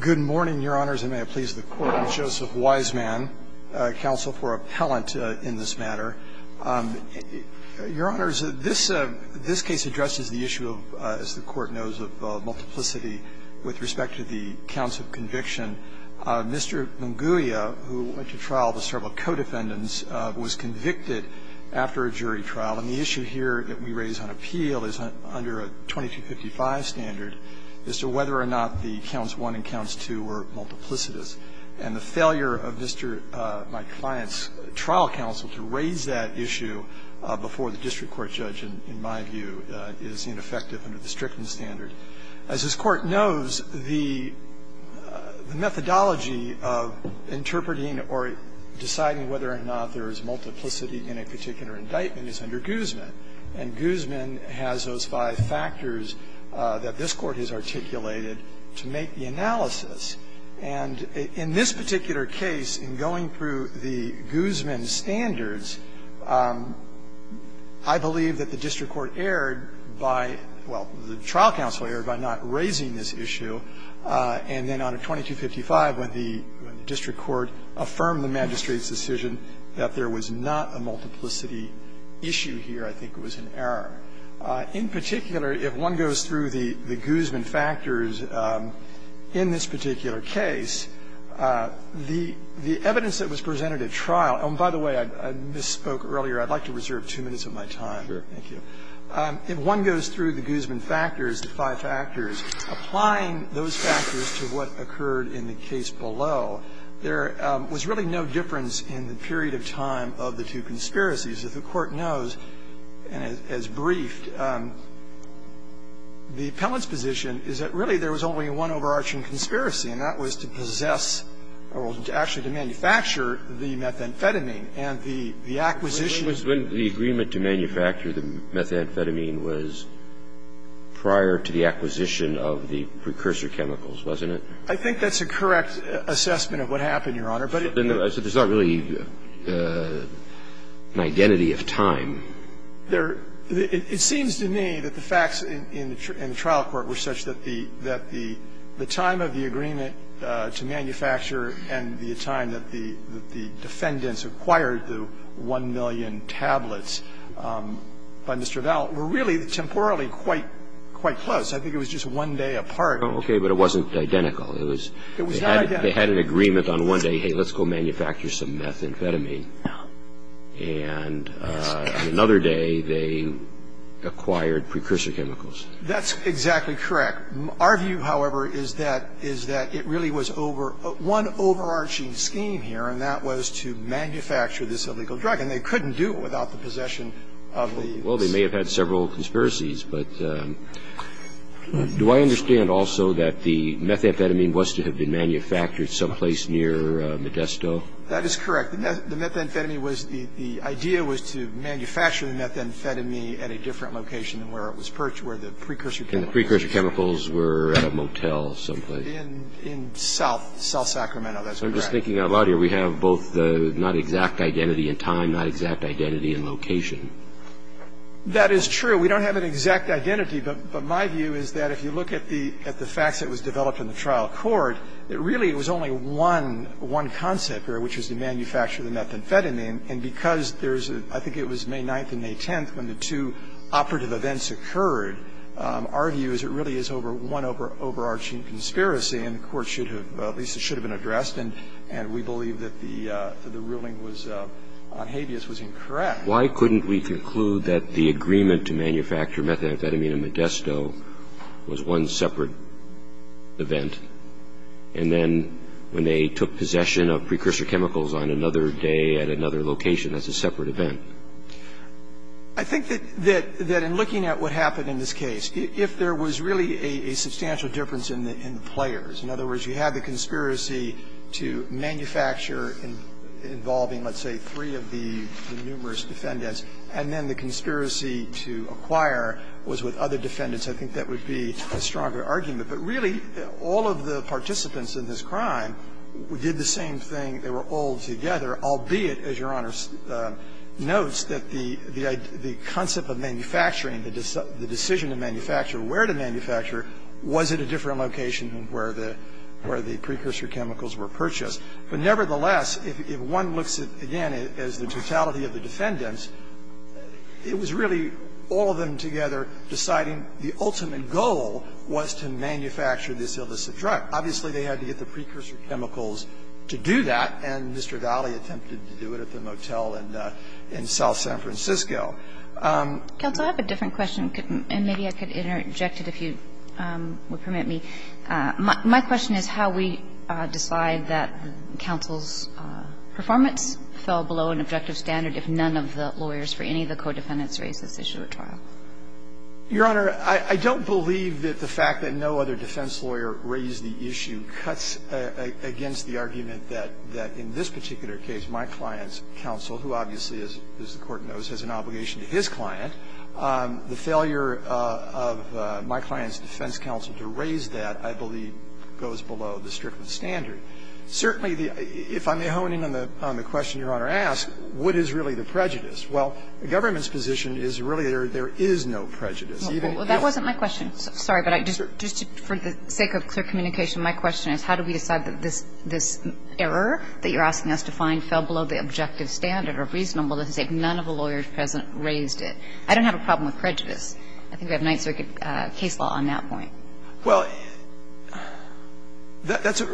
Good morning, Your Honors, and may it please the Court. I'm Joseph Wiseman, counsel for appellant in this matter. Your Honors, this case addresses the issue of, as the Court knows, of multiplicity with respect to the counts of conviction. Mr. Munguia, who went to trial with several co-defendants, was convicted after a jury trial. And the issue here that we raise on appeal is under a 2255 standard as to whether or not the counts 1 and counts 2 were multiplicitous. And the failure of Mr. my client's trial counsel to raise that issue before the district court judge, in my view, is ineffective under the Strickland standard. As this Court knows, the methodology of interpreting or deciding whether or not there is multiplicity in a particular indictment is under Guzman. And Guzman has those five factors that this Court has articulated to make the analysis. And in this particular case, in going through the Guzman standards, I believe that the district court erred by – well, the trial counsel erred by not raising this issue. And then on a 2255, when the district court affirmed the magistrate's decision that there was not a multiplicity issue here, I think it was an error. In particular, if one goes through the Guzman factors in this particular case, the evidence that was presented at trial – and by the way, I misspoke earlier. I'd like to reserve two minutes of my time. Thank you. If one goes through the Guzman factors, the five factors, applying those factors to what occurred in the case below, there was really no difference in the period of time of the two conspiracies. If the Court knows, as briefed, the appellant's position is that really there was only one overarching conspiracy, and that was to possess or actually to manufacture the methamphetamine. And the acquisition of the methamphetamine was prior to the acquisition of the precursor chemicals, wasn't it? I think that's a correct assessment of what happened, Your Honor. But it's not really an identity of time. It seems to me that the facts in the trial court were such that the time of the agreement to manufacture and the time that the defendants acquired the 1 million tablets by Mr. Vell were really temporally quite close. I think it was just one day apart. Okay. But it wasn't identical. It was they had an agreement on one day, hey, let's go manufacture some methamphetamine. And another day they acquired precursor chemicals. That's exactly correct. Our view, however, is that it really was one overarching scheme here, and that was to manufacture this illegal drug. And they couldn't do it without the possession of the ---- Well, they may have had several conspiracies, but do I understand also that the methamphetamine was to have been manufactured someplace near Modesto? That is correct. The methamphetamine was the idea was to manufacture the methamphetamine at a different location than where it was purchased, where the precursor chemicals were. And the precursor chemicals were at a motel someplace. In South Sacramento. That's correct. I'm thinking out loud here we have both not exact identity in time, not exact identity in location. That is true. We don't have an exact identity, but my view is that if you look at the facts that was developed in the trial court, that really it was only one concept there, which was to manufacture the methamphetamine. And because there's a ---- I think it was May 9th and May 10th when the two operative events occurred, our view is it really is one overarching conspiracy, and the Court should have, at least it should have been addressed, and we believe that the ruling on habeas was incorrect. Why couldn't we conclude that the agreement to manufacture methamphetamine at Modesto was one separate event, and then when they took possession of precursor chemicals on another day at another location, that's a separate event? I think that in looking at what happened in this case, if there was really a substantial difference in the players, in other words, you had the conspiracy to manufacture involving, let's say, three of the numerous defendants, and then the conspiracy to acquire was with other defendants, I think that would be a stronger argument. But really, all of the participants in this crime did the same thing. They were all together, albeit, as Your Honor notes, that the concept of manufacturing, the decision to manufacture, where to manufacture, was at a different location than where the precursor chemicals were purchased. But nevertheless, if one looks at, again, as the totality of the defendants, it was really all of them together deciding the ultimate goal was to manufacture this illicit drug. Obviously, they had to get the precursor chemicals to do that, and Mr. Valle attempted to do it at the motel in South San Francisco. Counsel, I have a different question, and maybe I could interject it if you would permit me. My question is how we decide that counsel's performance fell below an objective standard if none of the lawyers for any of the co-defendants raised this issue at trial. Your Honor, I don't believe that the fact that no other defense lawyer raised the issue cuts against the argument that in this particular case my client's counsel, who obviously, as the Court knows, has an obligation to his client, the failure of my client's defense counsel to raise that, I believe, goes below the strictest standard. Certainly, if I may hone in on the question Your Honor asked, what is really the prejudice? Well, the government's position is really there is no prejudice. Even if it's not. Well, that wasn't my question. Sorry, but just for the sake of clear communication, my question is how do we decide that this error that you're asking us to find fell below the objective standard or reasonable to say none of the lawyers present raised it? I don't have a problem with prejudice. I think we have Ninth Circuit case law on that point. Well, that's a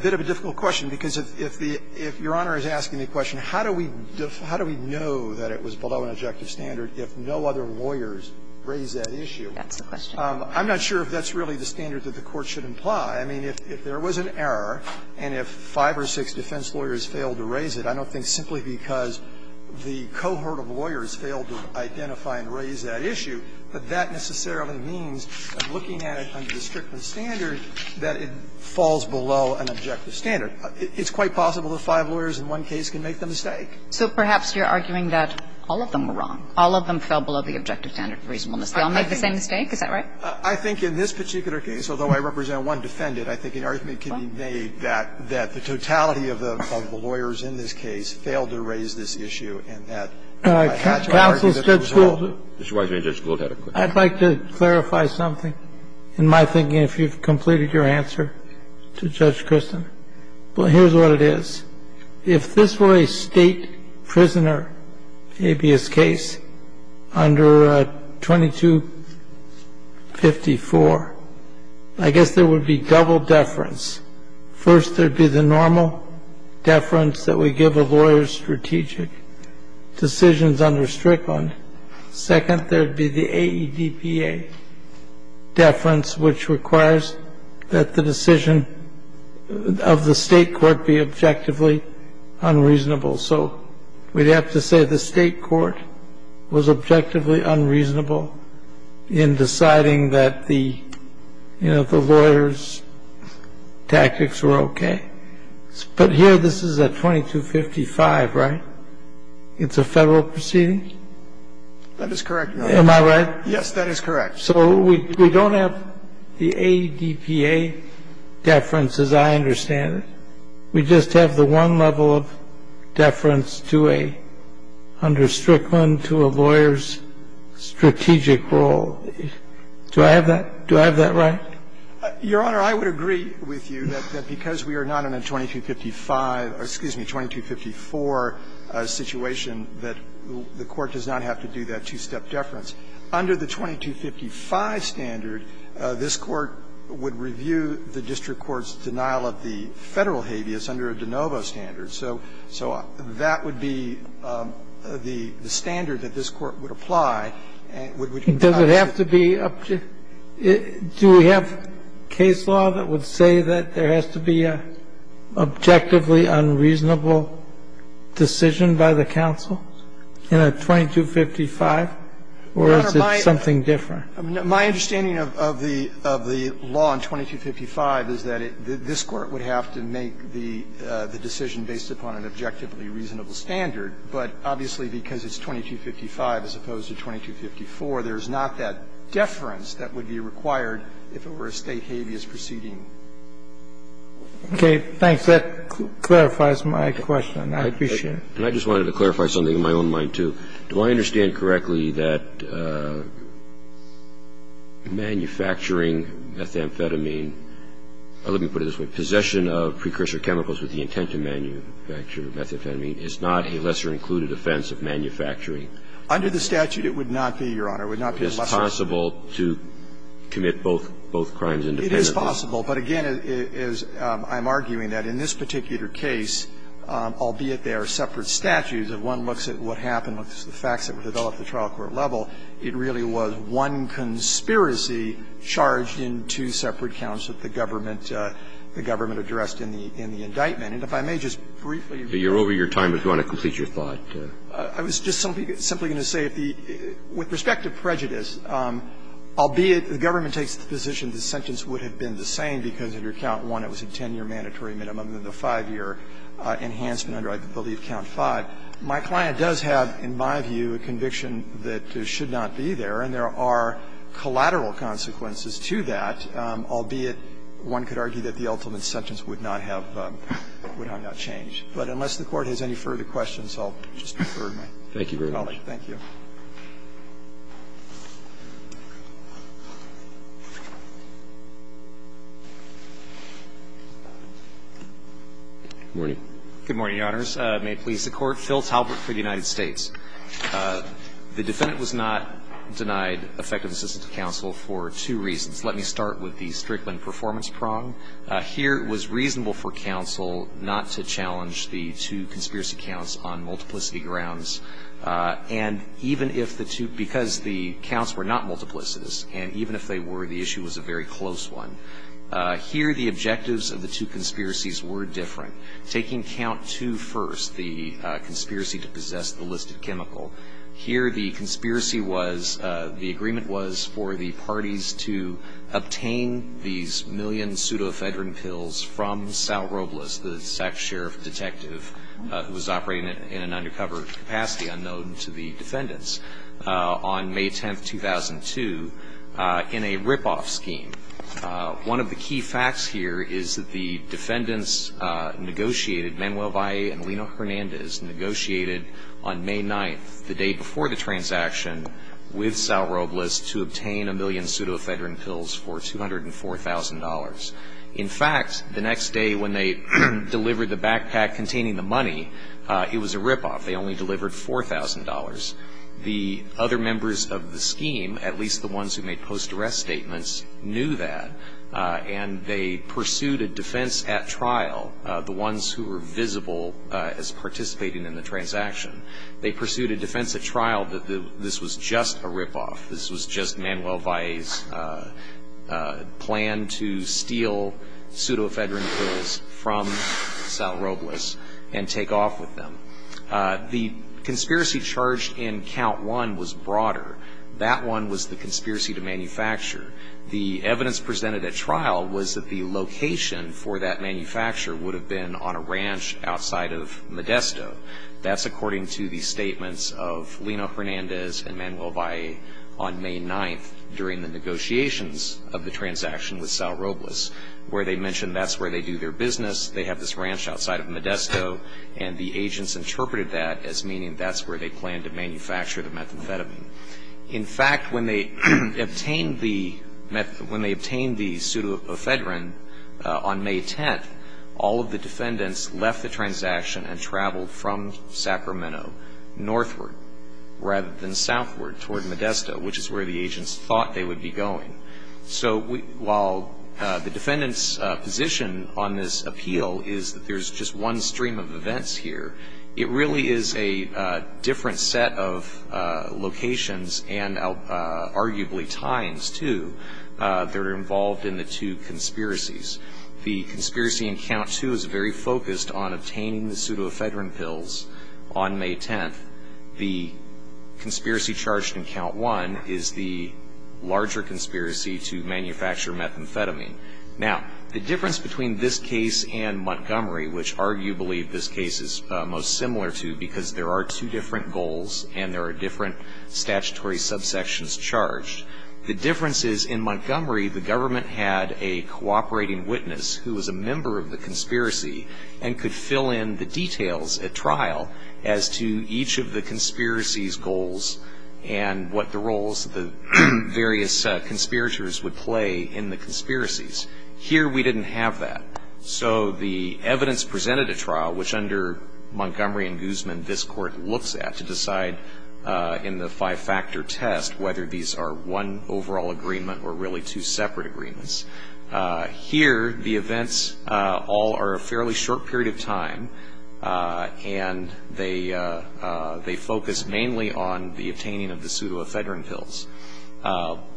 bit of a difficult question, because if the – if Your Honor is asking the question, how do we know that it was below an objective standard if no other lawyers raised that issue? That's the question. I'm not sure if that's really the standard that the Court should imply. I mean, if there was an error and if five or six defense lawyers failed to raise it, I don't think simply because the cohort of lawyers failed to identify and raise that issue, that that necessarily means looking at it under the strictest standard that it falls below an objective standard. It's quite possible that five lawyers in one case can make the mistake. So perhaps you're arguing that all of them were wrong. All of them fell below the objective standard of reasonableness. They all made the same mistake. Is that right? I think in this particular case, although I represent one defendant, I think an argument can be made that the totality of the lawyers in this case failed to raise this issue and that perhaps our argument was wrong. Counsel, Judge Gould. Mr. Weisman, Judge Gould had a question. I'd like to clarify something in my thinking, if you've completed your answer to Judge Kristen. Well, here's what it is. If this were a state prisoner habeas case under 2254, I guess there would be double deference. First, there would be the normal deference that we give a lawyer's strategic decisions under Strickland. Second, there would be the AEDPA deference, which requires that the decision of the state court be objectively unreasonable. So we'd have to say the state court was objectively unreasonable in deciding that the lawyers' tactics were okay. But here this is at 2255, right? It's a Federal proceeding? That is correct, Your Honor. Am I right? Yes, that is correct. So we don't have the AEDPA deference, as I understand it. We just have the one level of deference to a, under Strickland, to a lawyer's strategic role. Do I have that right? Your Honor, I would agree with you that because we are not in a 2255 or, excuse me, 2254 situation, that the Court does not have to do that two-step deference. Under the 2255 standard, this Court would review the district court's denial of the Federal habeas under a de novo standard. So that would be the standard that this Court would apply. Does it have to be? Do we have case law that would say that there has to be an objectively unreasonable decision by the counsel in a 2255? Or is it something different? Your Honor, my understanding of the law in 2255 is that this Court would have to make the decision based upon an objectively reasonable standard. But obviously, because it's 2255 as opposed to 2254, there's not that deference that would be required if it were a State habeas proceeding. Okay. Thanks. That clarifies my question. I appreciate it. And I just wanted to clarify something in my own mind, too. Do I understand correctly that manufacturing methamphetamine or, let me put it this way, possession of precursor chemicals with the intent to manufacture methamphetamine is not a lesser-included offense of manufacturing? Under the statute, it would not be, Your Honor. It would not be a lesser- Is it possible to commit both crimes independently? It is possible. But again, I'm arguing that in this particular case, albeit they are separate statutes, if one looks at what happened, looks at the facts that were developed at the trial court level, it really was one conspiracy charged in two separate counts that the government, the government addressed in the indictment. And if I may just briefly rephrase that. You're over your time, but do you want to complete your thought? I was just simply going to say, with respect to prejudice, albeit the government takes the position the sentence would have been the same because, under Count I, it was a 10-year mandatory minimum, and the 5-year enhancement under, I believe, Count V. My client does have, in my view, a conviction that should not be there. And there are collateral consequences to that, albeit one could argue that the ultimate sentence would not have, would have not changed. But unless the Court has any further questions, I'll just defer to my colleague. Thank you. Good morning. Good morning, Your Honors. May it please the Court. Phil Talbert for the United States. The defendant was not denied effective assistance to counsel for two reasons. Let me start with the Strickland performance prong. Here it was reasonable for counsel not to challenge the two conspiracy counts on multiplicity grounds. And even if the two, because the counts were not multiplicitous, and even if they were, the issue was a very close one. Here the objectives of the two conspiracies were different. Taking Count II first, the conspiracy to possess the listed chemical, here the conspiracy was, the agreement was for the parties to obtain these million pseudoephedrine pills from Sal Robles, the sheriff detective who was operating in an undercover capacity unknown to the defendants, on May 10, 2002, in a ripoff scheme. One of the key facts here is that the defendants negotiated, Manuel Valle and Lino Hernandez, negotiated on May 9th, the day before the transaction, with Sal Robles to obtain a million pseudoephedrine pills for $204,000. In fact, the next day when they delivered the backpack containing the money, it was a ripoff. They only delivered $4,000. The other members of the scheme, at least the ones who made post-arrest statements, knew that, and they pursued a defense at trial, the ones who were visible as participating in the transaction. They pursued a defense at trial that this was just a ripoff, this was just Manuel Valle's plan to steal pseudoephedrine pills from Sal Robles and take off with them. The conspiracy charged in Count 1 was broader. That one was the conspiracy to manufacture. The evidence presented at trial was that the location for that manufacture would have been on a ranch outside of Modesto. That's according to the statements of Lino Hernandez and Manuel Valle on May 9th during the negotiations of the transaction with Sal Robles, where they mentioned that's where they do their business, they have this ranch outside of Modesto, and the agents interpreted that as meaning that's where they planned to manufacture the methamphetamine. In fact, when they obtained the pseudoephedrine on May 10th, all of the defendants left the transaction and traveled from Sacramento northward rather than southward toward Modesto, which is where the agents thought they would be going. So while the defendant's position on this appeal is that there's just one stream of events here, it really is a different set of locations and arguably times, too, that are involved in the two conspiracies. The conspiracy in Count 2 is very focused on obtaining the pseudoephedrine pills on May 10th. The conspiracy charged in Count 1 is the larger conspiracy to manufacture methamphetamine. Now, the difference between this case and Montgomery, which I argue believe this case is most similar to because there are two different goals and there are different statutory subsections charged, the difference is in Montgomery the government had a cooperating witness who was a member of the conspiracy and could fill in the details at trial as to each of the conspiracy's goals and what the roles of the various conspirators would play in the conspiracies. Here we didn't have that. So the evidence presented at trial, which under Montgomery and Guzman this court looks at to decide in the five-factor test whether these are one overall agreement or really two separate agreements, here the events all are a fairly short period of time and they focus mainly on the obtaining of the pseudoephedrine pills.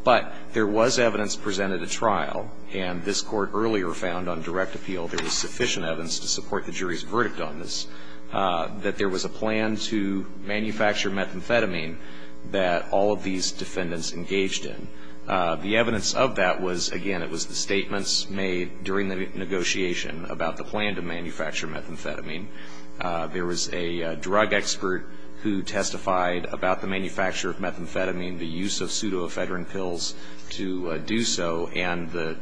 But there was evidence presented at trial, and this court earlier found on direct appeal there was sufficient evidence to support the jury's verdict on this, that there was a plan to manufacture methamphetamine that all of these defendants engaged in. The evidence of that was, again, it was the statements made during the negotiation about the plan to manufacture methamphetamine. There was a drug expert who testified about the manufacture of methamphetamine, the use of pseudoephedrine pills to do so, and the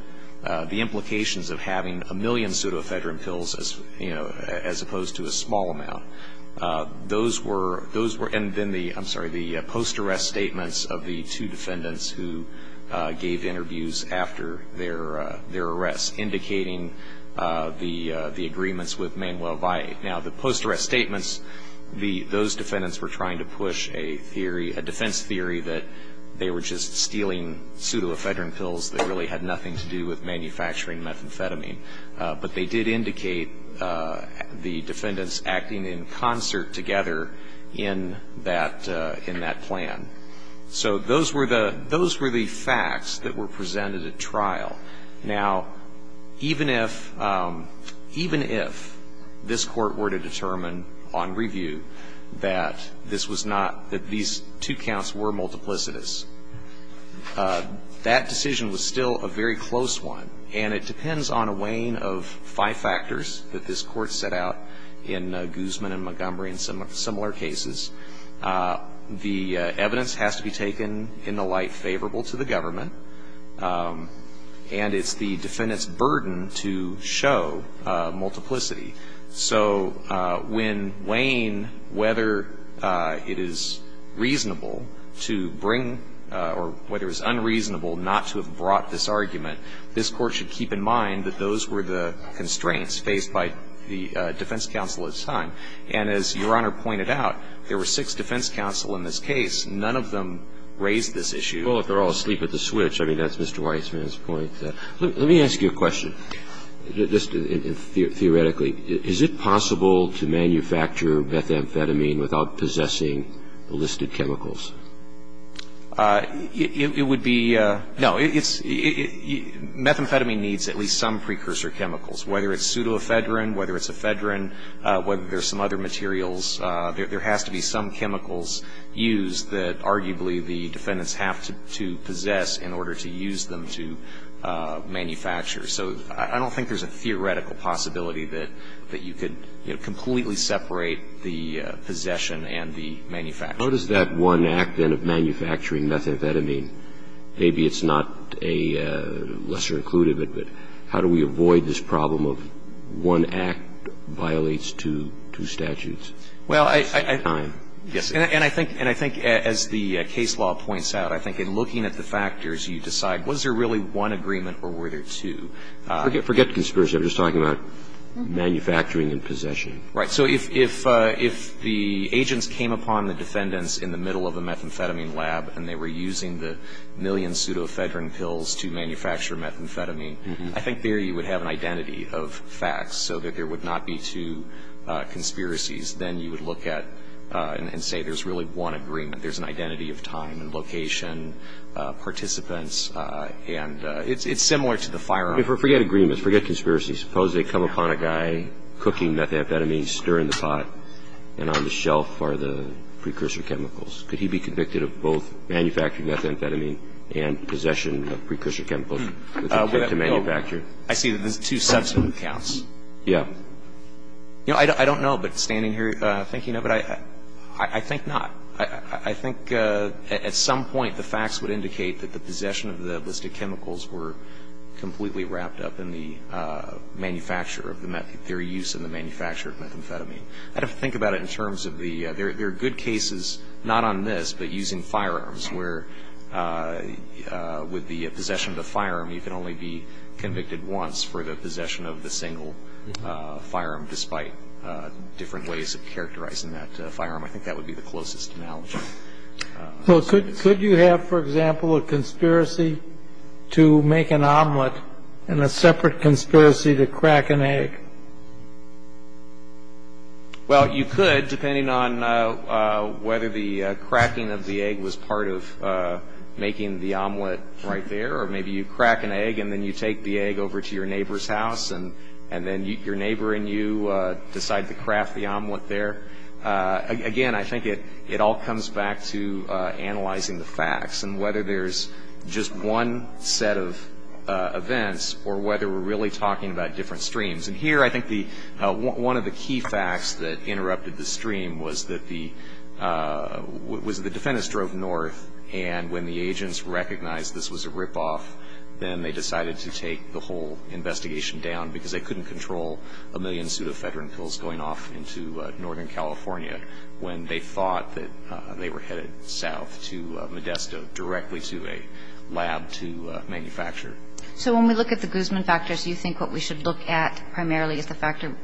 implications of having a million pseudoephedrine pills as opposed to a small amount. Those were, and then the post-arrest statements of the two defendants who gave interviews after their arrest indicating the agreements with Manuel Valle. Now, the post-arrest statements, those defendants were trying to push a theory, a defense theory that they were just stealing pseudoephedrine pills that really had nothing to do with manufacturing methamphetamine. But they did indicate the defendants acting in concert together in that plan. So those were the facts that were presented at trial. Now, even if this Court were to determine on review that this was not, that these two counts were multiplicitous, that decision was still a very close one, and it depends on a weighing of five factors that this Court set out in Guzman and Montgomery and similar cases. The evidence has to be taken in the light favorable to the government. And it's the defendant's burden to show multiplicity. So when weighing whether it is reasonable to bring or whether it was unreasonable not to have brought this argument, this Court should keep in mind that those were the constraints faced by the defense counsel at the time. And as Your Honor pointed out, there were six defense counsel in this case. None of them raised this issue. Well, if they're all asleep at the switch, I mean, that's Mr. Weissman's point. Let me ask you a question, just theoretically. Is it possible to manufacture methamphetamine without possessing the listed chemicals? It would be no. Methamphetamine needs at least some precursor chemicals, whether it's pseudoephedrine, whether it's ephedrine, whether there's some other materials. There has to be some chemicals used that arguably the defendants have to possess in order to use them to manufacture. So I don't think there's a theoretical possibility that you could completely separate the possession and the manufacture. How does that one act, then, of manufacturing methamphetamine, maybe it's not a lesser included, but how do we avoid this problem of one act violates two statutes at the same time? Yes. And I think as the case law points out, I think in looking at the factors, you decide was there really one agreement or were there two? Forget conspiracy. I'm just talking about manufacturing and possession. Right. So if the agents came upon the defendants in the middle of a methamphetamine lab and they were using the million pseudoephedrine pills to manufacture methamphetamine, I think there you would have an identity of facts so that there would not be two conspiracies. Then you would look at and say there's really one agreement. There's an identity of time and location, participants, and it's similar to the firearm. Forget agreements. Forget conspiracies. Suppose they come upon a guy cooking methamphetamine, stirring the pot, and on the shelf are the precursor chemicals. Could he be convicted of both manufacturing methamphetamine and possession of precursor chemicals with respect to manufacture? I see that there's two substantive counts. Yes. You know, I don't know, but standing here thinking of it, I think not. I think at some point the facts would indicate that the possession of the list of chemicals were completely wrapped up in the manufacture of the methamphetamine or their use in the manufacture of methamphetamine. I'd have to think about it in terms of the other. There are good cases, not on this, but using firearms, where with the possession of the firearm, you can only be convicted once for the possession of the single firearm, despite different ways of characterizing that firearm. I think that would be the closest analogy. So could you have, for example, a conspiracy to make an omelet and a separate conspiracy to crack an egg? Well, you could, depending on whether the cracking of the egg was part of making the omelet right there, or maybe you crack an egg and then you take the egg over to your neighbor's house, and then your neighbor and you decide to craft the omelet there. Again, I think it all comes back to analyzing the facts and whether there's just one set of events or whether we're really talking about different streams. And here, I think one of the key facts that interrupted the stream was that the defendants drove north, and when the agents recognized this was a ripoff, then they decided to take the whole investigation down because they couldn't control a million pseudo-veteran pills going off into northern California when they thought that they were headed south to Modesto, directly to a lab to manufacture. So when we look at the Guzman factors, you think what we should look at primarily is the factor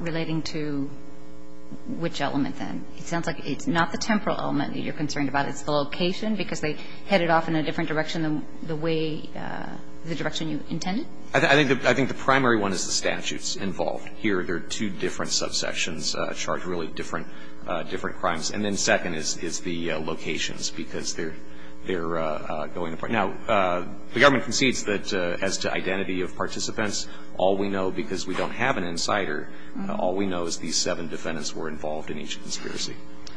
relating to which element, then? It sounds like it's not the temporal element that you're concerned about. It's the location, because they headed off in a different direction than the way the direction you intended? I think the primary one is the statutes involved. Here, there are two different subsections charged with really different crimes. And then second is the locations, because they're going apart. Now, the government concedes that as to identity of participants, all we know, because we don't have an insider, all we know is these seven defendants were involved in each conspiracy.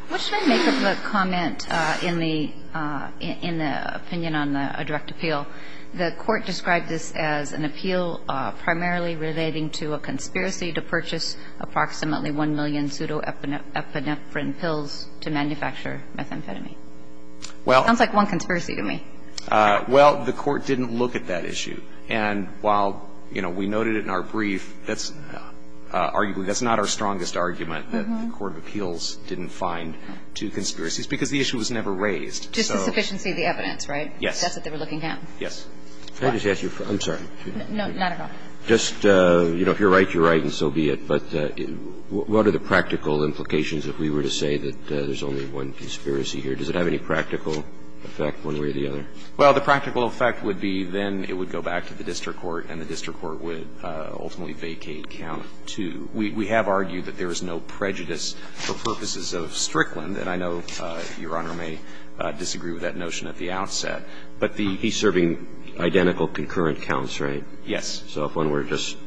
What should I make of the comment in the opinion on a direct appeal? The court described this as an appeal primarily relating to a conspiracy to purchase approximately 1 million pseudo-epinephrine pills to manufacture methamphetamine. It sounds like one conspiracy to me. Well, the court didn't look at that issue. And while we noted it in our brief, that's arguably not our strongest argument that the court of appeals didn't find two conspiracies, because the issue was never raised. Just the sufficiency of the evidence, right? Yes. That's what they were looking at. Yes. Can I just ask you a question? I'm sorry. No, not at all. Just if you're right, you're right, and so be it. But what are the practical implications if we were to say that there's only one conspiracy here, does it have any practical effect one way or the other? Well, the practical effect would be then it would go back to the district court and the district court would ultimately vacate count two. We have argued that there is no prejudice for purposes of Strickland, and I know Your Honor may disagree with that notion at the outset. But he's serving identical concurrent counts, right? Yes. So if one were just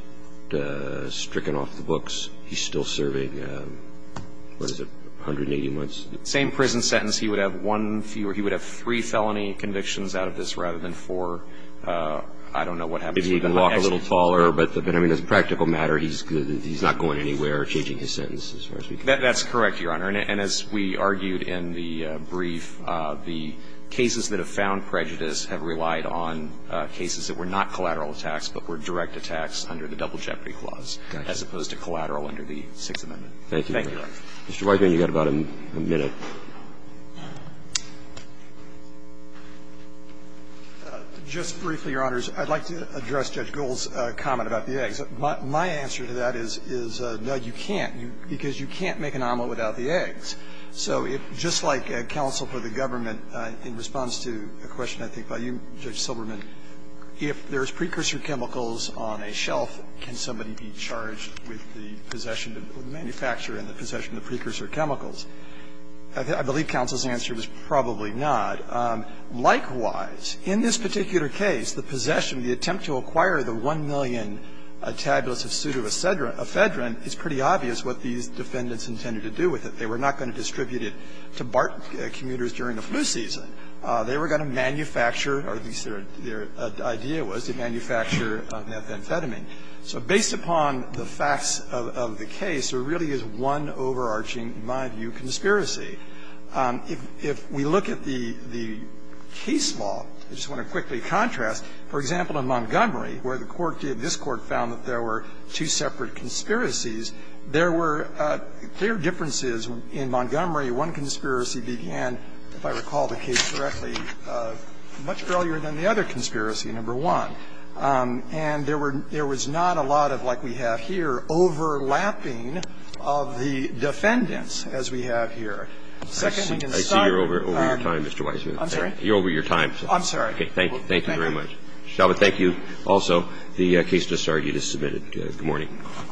stricken off the books, he's still serving, what is it, 180 months? Same prison sentence. He would have one fewer. He would have three felony convictions out of this rather than four. I don't know what happens. If he can walk a little taller. But I mean, as a practical matter, he's not going anywhere or changing his sentence as far as we can tell. That's correct, Your Honor. And as we argued in the brief, the cases that have found prejudice have relied on cases that were not collateral attacks but were direct attacks under the Double Jeopardy Clause as opposed to collateral under the Sixth Amendment. Thank you. Thank you, Your Honor. Mr. Weigand, you've got about a minute. Just briefly, Your Honors. I'd like to address Judge Gould's comment about the eggs. My answer to that is, no, you can't, because you can't make an omelet without the eggs. So if, just like counsel for the government, in response to a question I think by you, Judge Silberman, if there's precursor chemicals on a shelf, can somebody be charged with the possession of the manufacturer and the possession of precursor chemicals? I believe counsel's answer was probably not. Likewise, in this particular case, the possession, the attempt to acquire the 1 million tabulus of pseudoephedrine is pretty obvious what these defendants intended to do with it. They were not going to distribute it to BART commuters during the flu season. They were going to manufacture, or at least their idea was to manufacture methamphetamine. So based upon the facts of the case, there really is one overarching, in my view, conspiracy. If we look at the case law, I just want to quickly contrast. For example, in Montgomery, where the Court did, this Court found that there were two separate conspiracies, there were clear differences in Montgomery. One conspiracy began, if I recall the case correctly, much earlier than the other conspiracy, number one. And there were not a lot of, like we have here, overlapping of the defendants as we have here. Second, we can sum up our ---- I see you're over your time, Mr. Weisman. I'm sorry? You're over your time. I'm sorry. Okay. Thank you. Thank you very much. Thank you. Shalva, thank you. Also, the case disargued is submitted. Good morning.